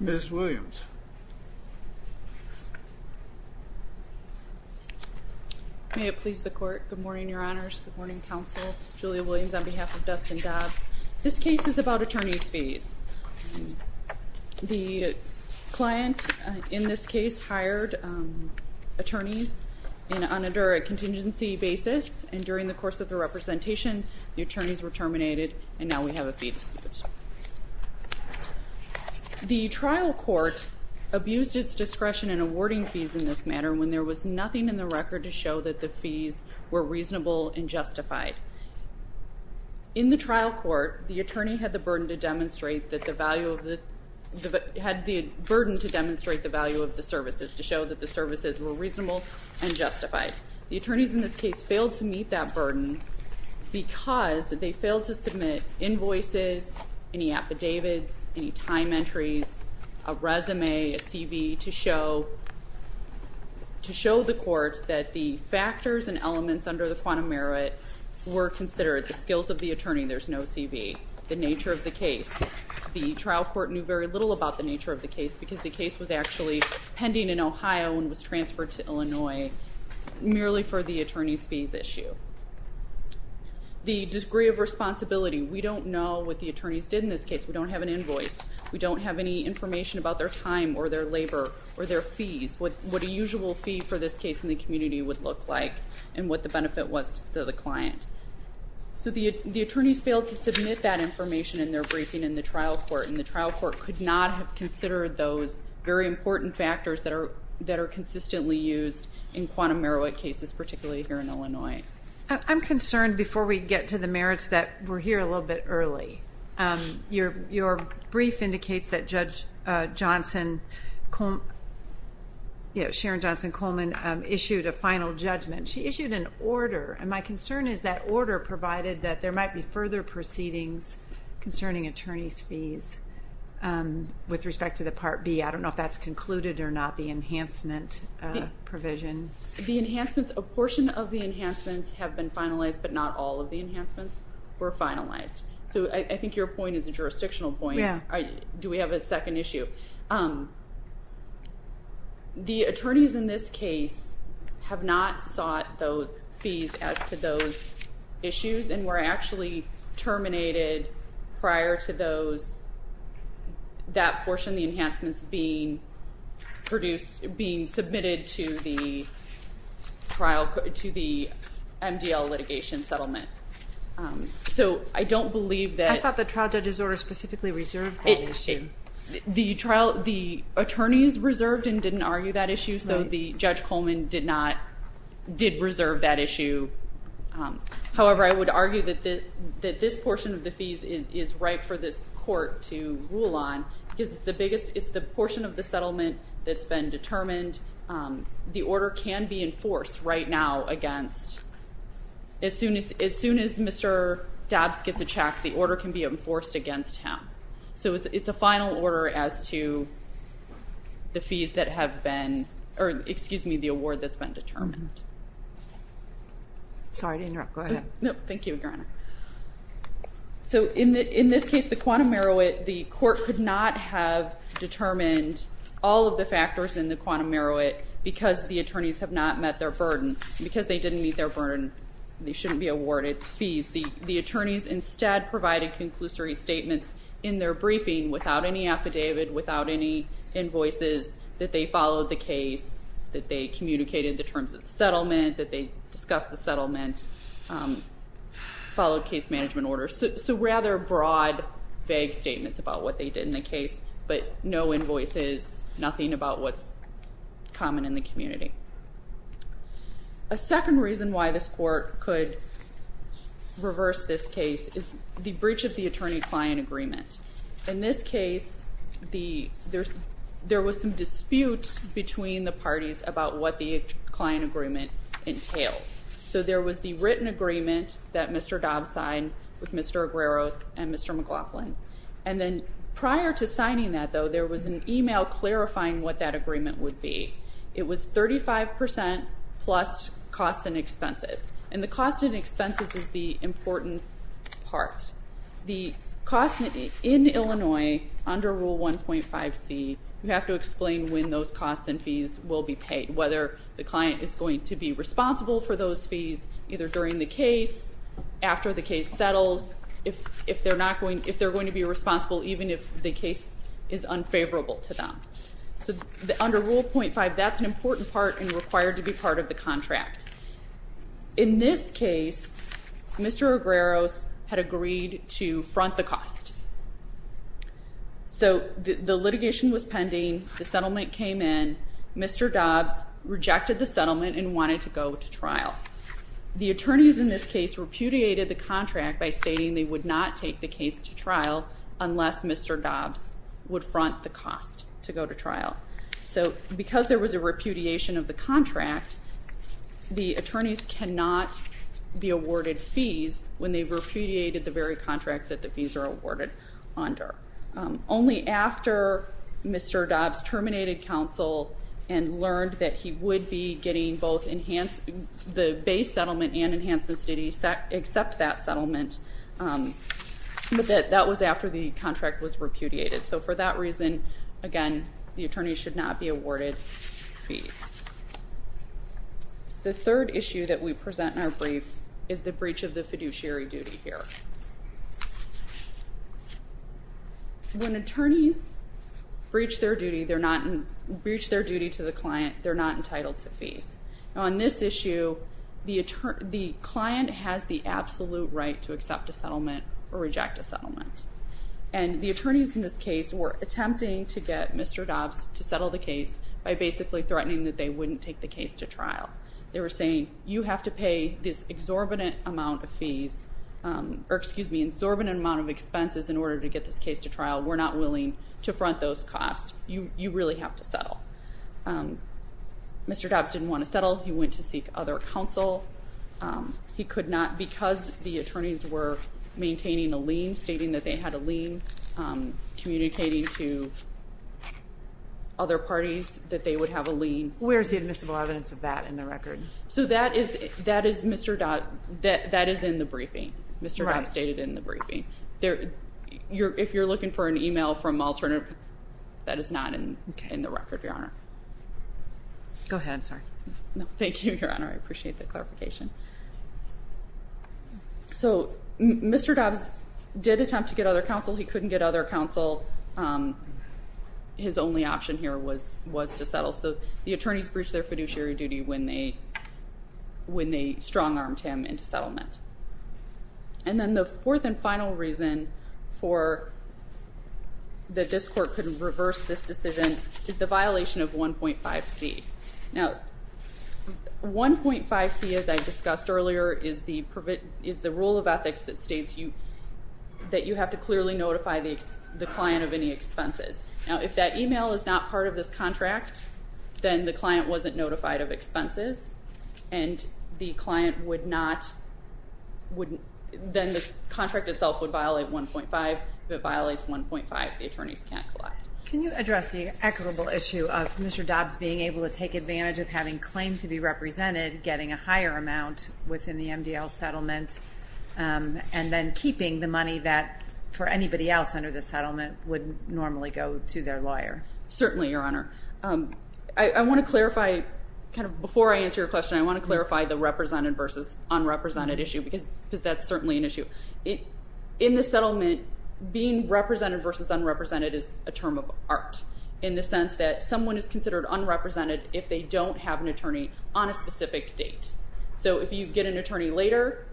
Ms. Williams May it please the court, good morning your honors, good morning counsel, Julia Williams on behalf of Dustin Dobbs This case is about attorney's fees The client in this case hired attorneys on a contingency basis And during the course of the representation, the attorneys were terminated and now we have a fee dispute The trial court abused its discretion in awarding fees in this matter when there was nothing in the record to show that the fees were reasonable and justified In the trial court, the attorney had the burden to demonstrate the value of the services to show that the services were reasonable and justified The attorneys in this case failed to meet that burden because they failed to submit invoices, any affidavits, any time entries, a resume, a CV To show the court that the factors and elements under the quantum merit were considered The skills of the attorney, there's no CV The nature of the case, the trial court knew very little about the nature of the case because the case was actually pending in Ohio and was transferred to Illinois Merely for the attorney's fees issue The degree of responsibility, we don't know what the attorneys did in this case, we don't have an invoice We don't have any information about their time or their labor or their fees What a usual fee for this case in the community would look like and what the benefit was to the client So the attorneys failed to submit that information in their briefing in the trial court And the trial court could not have considered those very important factors that are consistently used in quantum merit cases, particularly here in Illinois I'm concerned before we get to the merits that we're here a little bit early Your brief indicates that Judge Johnson, Sharon Johnson Coleman issued a final judgment She issued an order, and my concern is that order provided that there might be further proceedings concerning attorney's fees With respect to the Part B, I don't know if that's concluded or not, the enhancement provision The enhancements, a portion of the enhancements have been finalized, but not all of the enhancements were finalized So I think your point is a jurisdictional point Do we have a second issue? The attorneys in this case have not sought those fees as to those issues And were actually terminated prior to that portion of the enhancements being submitted to the MDL litigation settlement So I don't believe that I thought the trial judge's order specifically reserved that issue The attorneys reserved and didn't argue that issue, so Judge Coleman did reserve that issue However, I would argue that this portion of the fees is right for this court to rule on Because it's the portion of the settlement that's been determined The order can be enforced right now against As soon as Mr. Dobbs gets a check, the order can be enforced against him So it's a final order as to the fees that have been, or excuse me, the award that's been determined Sorry to interrupt, go ahead No, thank you, your honor So in this case, the quantum merit, the court could not have determined all of the factors in the quantum merit Because the attorneys have not met their burden Because they didn't meet their burden, they shouldn't be awarded fees The attorneys instead provided conclusory statements in their briefing without any affidavit, without any invoices That they followed the case, that they communicated the terms of the settlement, that they discussed the settlement Followed case management orders So rather broad, vague statements about what they did in the case But no invoices, nothing about what's common in the community A second reason why this court could reverse this case is the breach of the attorney-client agreement In this case, there was some dispute between the parties about what the client agreement entailed So there was the written agreement that Mr. Dobbs signed with Mr. Agueros and Mr. McLaughlin And then prior to signing that though, there was an email clarifying what that agreement would be It was 35% plus cost and expenses And the cost and expenses is the important part The cost in Illinois under Rule 1.5c, you have to explain when those costs and fees will be paid Whether the client is going to be responsible for those fees Either during the case, after the case settles If they're going to be responsible even if the case is unfavorable to them So under Rule 1.5, that's an important part and required to be part of the contract In this case, Mr. Agueros had agreed to front the cost So the litigation was pending, the settlement came in Mr. Dobbs rejected the settlement and wanted to go to trial The attorneys in this case repudiated the contract by stating they would not take the case to trial Unless Mr. Dobbs would front the cost to go to trial So because there was a repudiation of the contract The attorneys cannot be awarded fees when they've repudiated the very contract that the fees are awarded under Only after Mr. Dobbs terminated counsel And learned that he would be getting both the base settlement and enhancements He did accept that settlement, but that was after the contract was repudiated So for that reason, again, the attorneys should not be awarded fees The third issue that we present in our brief is the breach of the fiduciary duty here When attorneys breach their duty to the client, they're not entitled to fees On this issue, the client has the absolute right to accept a settlement or reject a settlement And the attorneys in this case were attempting to get Mr. Dobbs to settle the case By basically threatening that they wouldn't take the case to trial They were saying, you have to pay this exorbitant amount of fees Or, excuse me, exorbitant amount of expenses in order to get this case to trial We're not willing to front those costs, you really have to settle Mr. Dobbs didn't want to settle, he went to seek other counsel Because the attorneys were maintaining a lien, stating that they had a lien Communicating to other parties that they would have a lien Where's the admissible evidence of that in the record? That is in the briefing, Mr. Dobbs stated in the briefing If you're looking for an email from alternative, that is not in the record, Your Honor Go ahead, I'm sorry No, thank you, Your Honor, I appreciate the clarification So, Mr. Dobbs did attempt to get other counsel, he couldn't get other counsel His only option here was to settle So, the attorneys breached their fiduciary duty when they strong-armed him into settlement And then the fourth and final reason that this court couldn't reverse this decision Is the violation of 1.5c Now, 1.5c, as I discussed earlier, is the rule of ethics that states That you have to clearly notify the client of any expenses Now, if that email is not part of this contract, then the client wasn't notified of expenses And the client would not, then the contract itself would violate 1.5 If it violates 1.5, the attorneys can't collect Can you address the equitable issue of Mr. Dobbs being able to take advantage of having claim to be represented Getting a higher amount within the MDL settlement And then keeping the money that for anybody else under the settlement would normally go to their lawyer Certainly, Your Honor I want to clarify, kind of before I answer your question I want to clarify the represented versus unrepresented issue Because that's certainly an issue In the settlement, being represented versus unrepresented is a term of art In the sense that someone is considered unrepresented if they don't have an attorney on a specific date So, if you get an attorney later,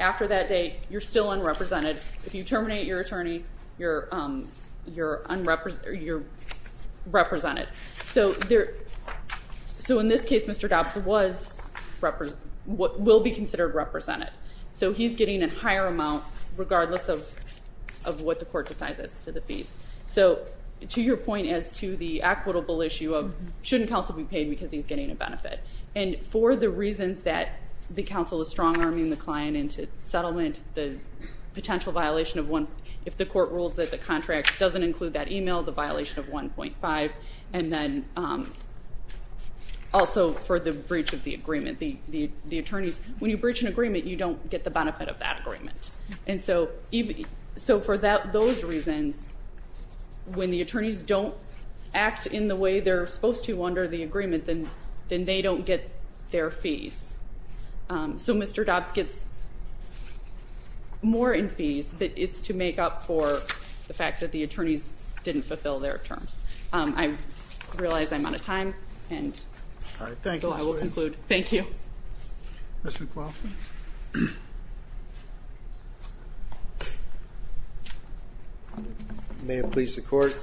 after that date, you're still unrepresented If you terminate your attorney, you're represented So, in this case, Mr. Dobbs will be considered represented So, he's getting a higher amount regardless of what the court decides as to the fees So, to your point as to the equitable issue of shouldn't counsel be paid because he's getting a benefit And for the reasons that the counsel is strong-arming the client into settlement The potential violation of one, if the court rules that the contract doesn't include that email The violation of 1.5 and then also for the breach of the agreement The attorneys, when you breach an agreement, you don't get the benefit of that agreement And so, for those reasons, when the attorneys don't act in the way they're supposed to under the agreement Then they don't get their fees So, Mr. Dobbs gets more in fees, but it's to make up for the fact that the attorneys didn't fulfill their terms I realize I'm out of time, and so I will conclude. Thank you Mr. McLaughlin May it please the court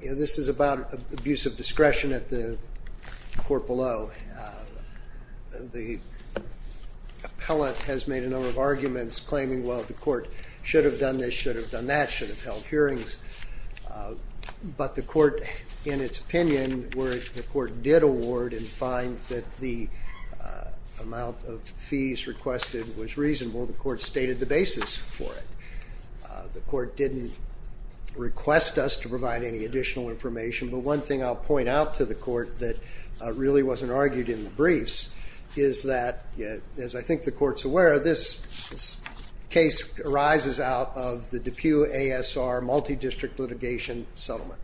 This is about abuse of discretion at the court below The appellate has made a number of arguments claiming, well, the court should have done this, should have done that Should have held hearings, but the court, in its opinion, where the court did award And find that the amount of fees requested was reasonable, the court stated the basis for it The court didn't request us to provide any additional information But one thing I'll point out to the court that really wasn't argued in the briefs Is that, as I think the court's aware, this case arises out of the DePue ASR multi-district litigation settlement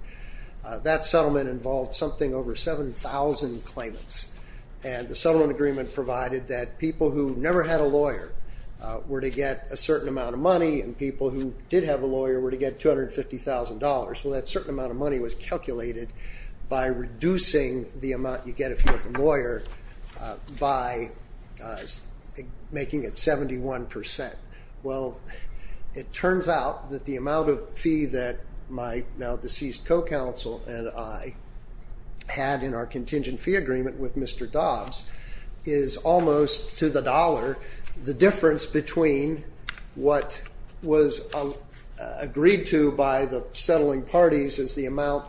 That settlement involved something over 7,000 claimants And the settlement agreement provided that people who never had a lawyer Were to get a certain amount of money, and people who did have a lawyer were to get $250,000 Well, that certain amount of money was calculated by reducing the amount you get if you're a lawyer By making it 71% Well, it turns out that the amount of fee that my now deceased co-counsel and I Had in our contingent fee agreement with Mr. Dobbs Is almost, to the dollar, the difference between what was agreed to by the settling parties As the amount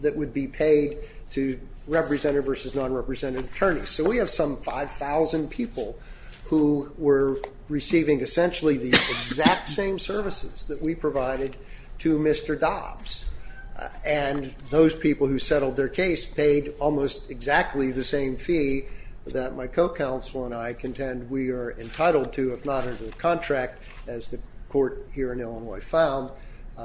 that would be paid to representative versus non-representative attorneys So we have some 5,000 people who were receiving essentially the exact same services that we provided to Mr. Dobbs And those people who settled their case paid almost exactly the same fee That my co-counsel and I contend we are entitled to, if not under the contract As the court here in Illinois found,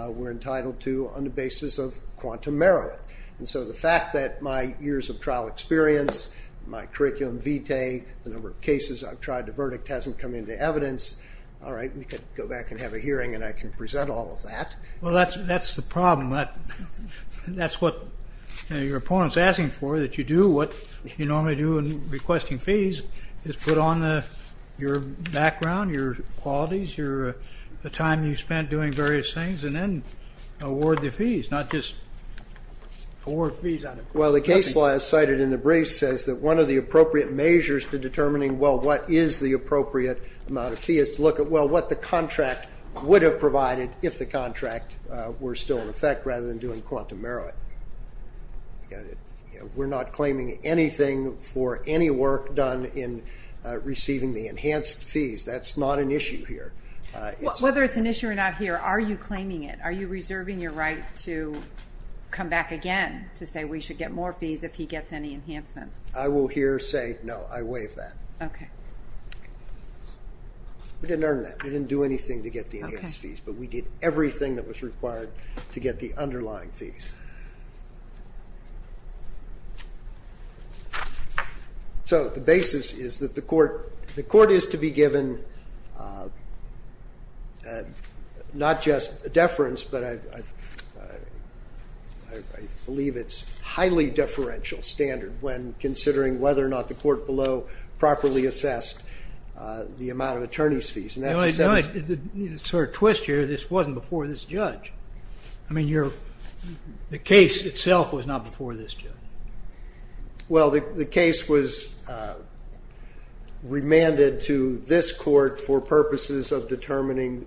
we're entitled to on the basis of quantum merit And so the fact that my years of trial experience, my curriculum vitae, the number of cases I've tried to verdict hasn't come into evidence All right, we can go back and have a hearing and I can present all of that Well, that's the problem, that's what your opponent's asking for That you do what you normally do in requesting fees Is put on your background, your qualities, the time you spent doing various things And then award the fees, not just award fees Well, the case law as cited in the brief says that one of the appropriate measures to determining Well, what is the appropriate amount of fee is to look at, well, what the contract would have provided If the contract were still in effect rather than doing quantum merit We're not claiming anything for any work done in receiving the enhanced fees, that's not an issue here Whether it's an issue or not here, are you claiming it, are you reserving your right to come back again To say we should get more fees if he gets any enhancements I will here say no, I waive that Okay We didn't earn that, we didn't do anything to get the enhanced fees But we did everything that was required to get the underlying fees So the basis is that the court is to be given not just a deference But I believe it's highly deferential standard when considering whether or not the court below Properly assessed the amount of attorney's fees Sort of twist here, this wasn't before this judge I mean, the case itself was not before this judge Well, the case was remanded to this court for purposes of determining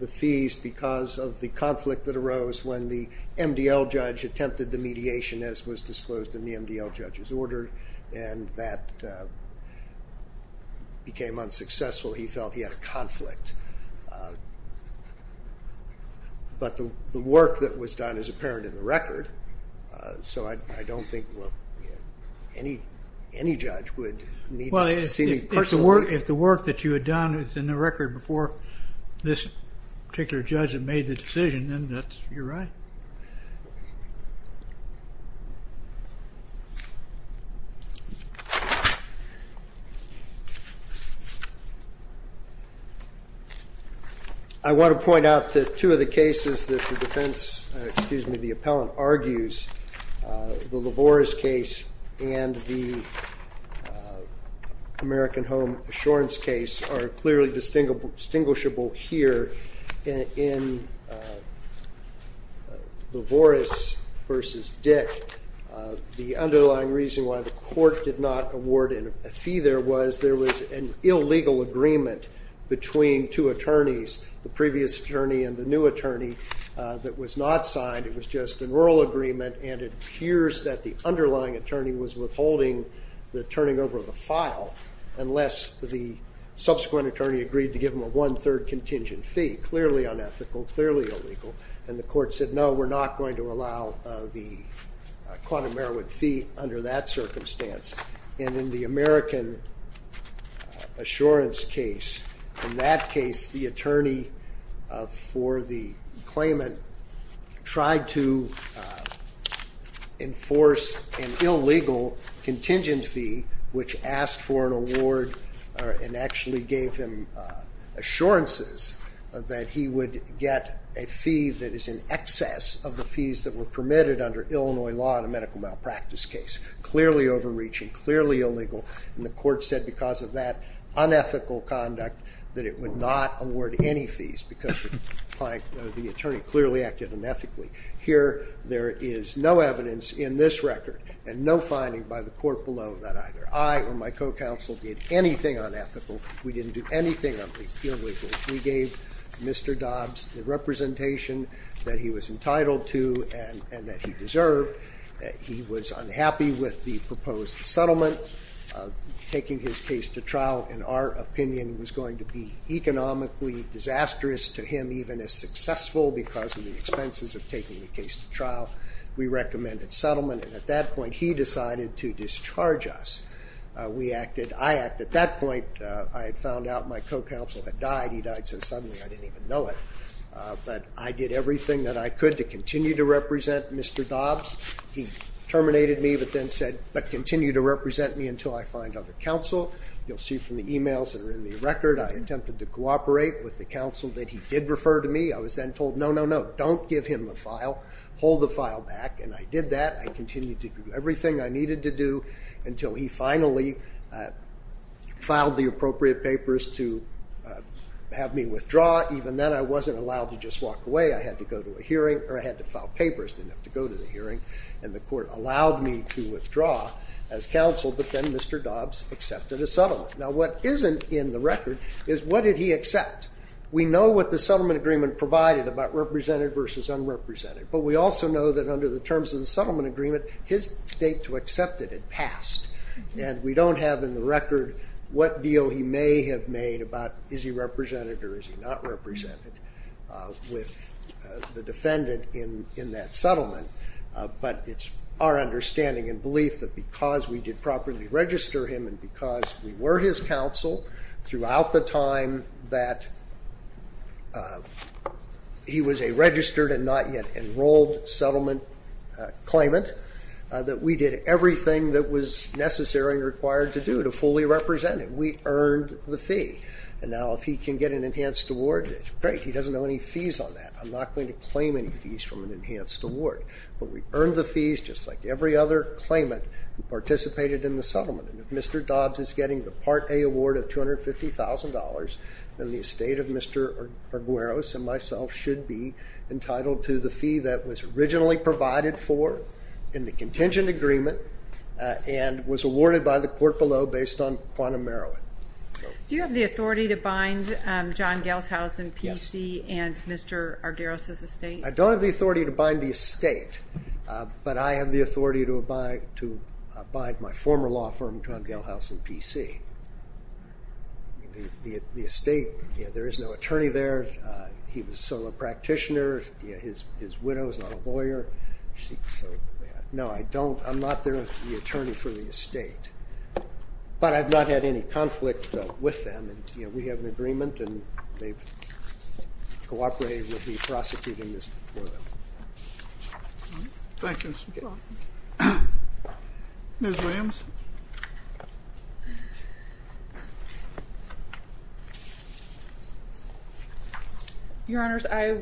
the fees Because of the conflict that arose when the MDL judge attempted the mediation As was disclosed in the MDL judge's order And that became unsuccessful, he felt he had a conflict But the work that was done is apparent in the record So I don't think any judge would need to see me personally Well, if the work that you had done is in the record before this particular judge had made the decision And then that's your right I want to point out that two of the cases that the defense, excuse me, the appellant argues The Lavoris case and the American Home Assurance case are clearly distinguishable here In Lavoris v. Dick, the underlying reason why the court did not award a fee there was There was an illegal agreement between two attorneys The previous attorney and the new attorney that was not signed It was just an oral agreement and it appears that the underlying attorney was withholding the turning over of the file Unless the subsequent attorney agreed to give him a one-third contingent fee Clearly unethical, clearly illegal And the court said, no, we're not going to allow the quantum merit fee under that circumstance And in the American Assurance case, in that case, the attorney for the claimant Tried to enforce an illegal contingent fee which asked for an award And actually gave him assurances that he would get a fee that is in excess of the fees that were permitted Under Illinois law in a medical malpractice case Clearly overreaching, clearly illegal And the court said because of that unethical conduct that it would not award any fees Because the attorney clearly acted unethically Here there is no evidence in this record and no finding by the court below That either I or my co-counsel did anything unethical We didn't do anything illegal We gave Mr. Dobbs the representation that he was entitled to and that he deserved He was unhappy with the proposed settlement Taking his case to trial, in our opinion, was going to be economically disastrous to him Even if successful because of the expenses of taking the case to trial We recommended settlement And at that point he decided to discharge us I acted at that point I had found out my co-counsel had died He died so suddenly I didn't even know it But I did everything that I could to continue to represent Mr. Dobbs He terminated me but then said, but continue to represent me until I find other counsel You'll see from the emails that are in the record I attempted to cooperate with the counsel that he did refer to me I was then told, no, no, no, don't give him the file Hold the file back And I did that I continued to do everything I needed to do Until he finally filed the appropriate papers to have me withdraw I had to go to a hearing Or I had to file papers to go to the hearing And the court allowed me to withdraw as counsel But then Mr. Dobbs accepted a settlement Now what isn't in the record is what did he accept We know what the settlement agreement provided about represented versus unrepresented But we also know that under the terms of the settlement agreement His state to accept it had passed And we don't have in the record what deal he may have made about Is he represented or is he not represented With the defendant in that settlement But it's our understanding and belief that because we did properly register him And because we were his counsel Throughout the time that he was a registered and not yet enrolled settlement claimant That we did everything that was necessary and required to do to fully represent him We earned the fee And now if he can get an enhanced award Great, he doesn't owe any fees on that I'm not going to claim any fees from an enhanced award But we earned the fees just like every other claimant Who participated in the settlement And if Mr. Dobbs is getting the Part A award of $250,000 Then the estate of Mr. Argueros and myself should be entitled to the fee That was originally provided for in the contingent agreement And was awarded by the court below based on quantum merit Do you have the authority to bind John Gelshausen, PC, and Mr. Argueros' estate? I don't have the authority to bind the estate But I have the authority to bind my former law firm, John Gelshausen, PC The estate, there is no attorney there He was a solo practitioner His widow is not a lawyer No, I'm not the attorney for the estate But I've not had any conflict with them And we have an agreement And they've cooperated with me prosecuting this for them Thank you You're welcome Ms. Williams Your Honors, I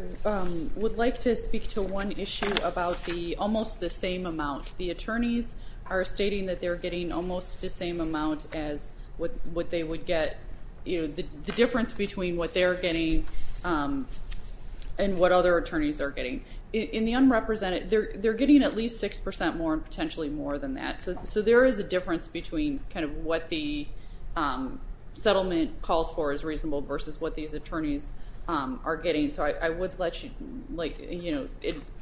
would like to speak to one issue About almost the same amount The attorneys are stating that they're getting almost the same amount As what they would get The difference between what they're getting And what other attorneys are getting In the unrepresented, they're getting at least 6% more And potentially more than that So there is a difference between what the settlement calls for is reasonable Versus what these attorneys are getting So I would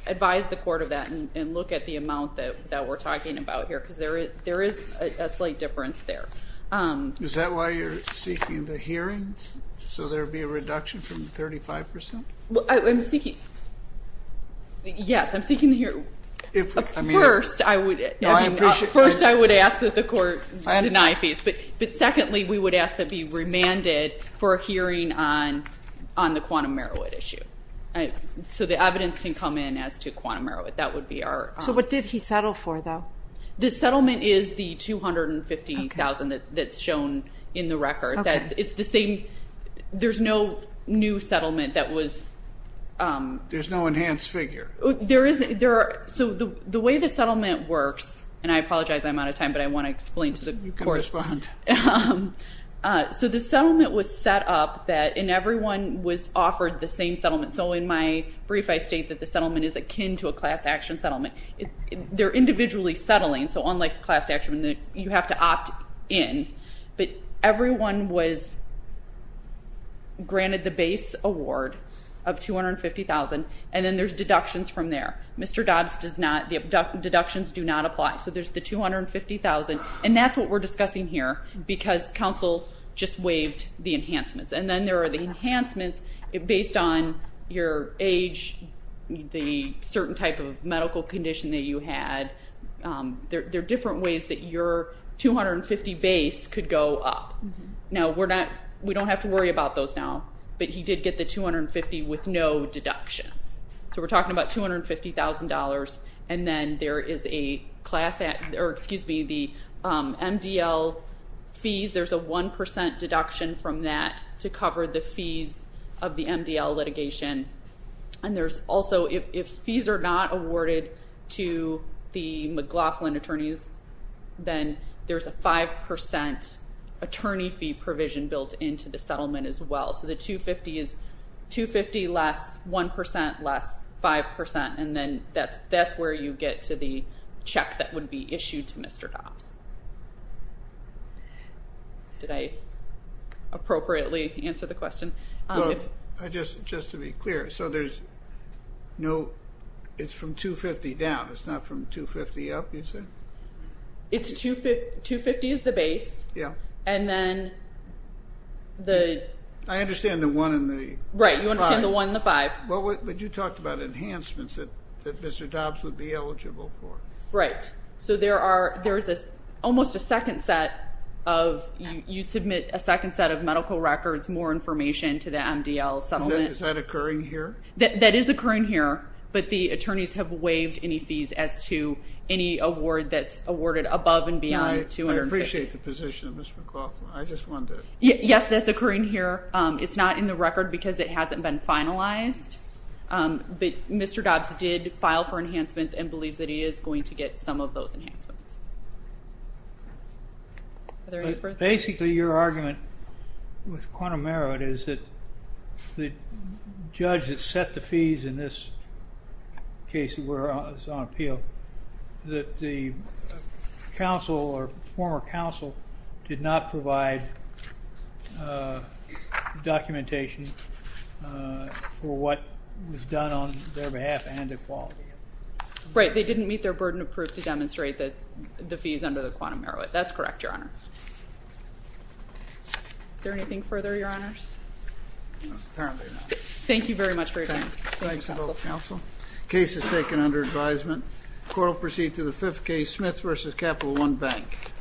advise the court of that And look at the amount that we're talking about here Because there is a slight difference there Is that why you're seeking the hearing? So there would be a reduction from 35%? I'm seeking Yes, I'm seeking the hearing First, I would ask that the court deny fees But secondly, we would ask to be remanded For a hearing on the quantum Merowith issue So the evidence can come in as to quantum Merowith So what did he settle for though? The settlement is the $250,000 that's shown in the record It's the same, there's no new settlement that was There's no enhanced figure So the way the settlement works And I apologize, I'm out of time But I want to explain to the court So the settlement was set up And everyone was offered the same settlement So in my brief, I state that the settlement Is akin to a class action settlement They're individually settling So unlike class action, you have to opt in But everyone was granted the base award of $250,000 And then there's deductions from there Mr. Dobbs, the deductions do not apply So there's the $250,000 And that's what we're discussing here Because counsel just waived the enhancements And then there are the enhancements Based on your age, the certain type of medical condition That you had, there are different ways That your $250,000 base could go up Now we don't have to worry about those now But he did get the $250,000 with no deductions So we're talking about $250,000 And then there is the MDL fees There's a 1% deduction from that To cover the fees of the MDL litigation And there's also, if fees are not awarded To the McLaughlin attorneys Then there's a 5% attorney fee provision Built into the settlement as well So the $250,000 is $250,000 less, 1% less, 5% And then that's where you get to the check That would be issued to Mr. Dobbs Did I appropriately answer the question? Well, just to be clear So there's no, it's from $250,000 down It's not from $250,000 up, you'd say? $250,000 is the base Yeah And then the I understand the 1 and the 5 Right, you understand the 1 and the 5 But you talked about enhancements That Mr. Dobbs would be eligible for Right, so there's almost a second set of You submit a second set of medical records More information to the MDL settlement Is that occurring here? That is occurring here But the attorneys have waived any fees As to any award that's awarded above and beyond $250,000 I appreciate the position of Mr. McLaughlin I just wanted to Yes, that's occurring here It's not in the record because it hasn't been finalized But Mr. Dobbs did file for enhancements And believes that he is going to get some of those enhancements Basically, your argument with quantum merit Is that the judge that set the fees in this case Where I was on appeal That the counsel or former counsel Did not provide documentation For what was done on their behalf and equality Right, they didn't meet their burden of proof To demonstrate that the fees under the quantum merit That's correct, your honor Is there anything further, your honors? Apparently not Thank you very much for your time Thanks, counsel Case is taken under advisement Court will proceed to the fifth case Smith v. Capital One Bank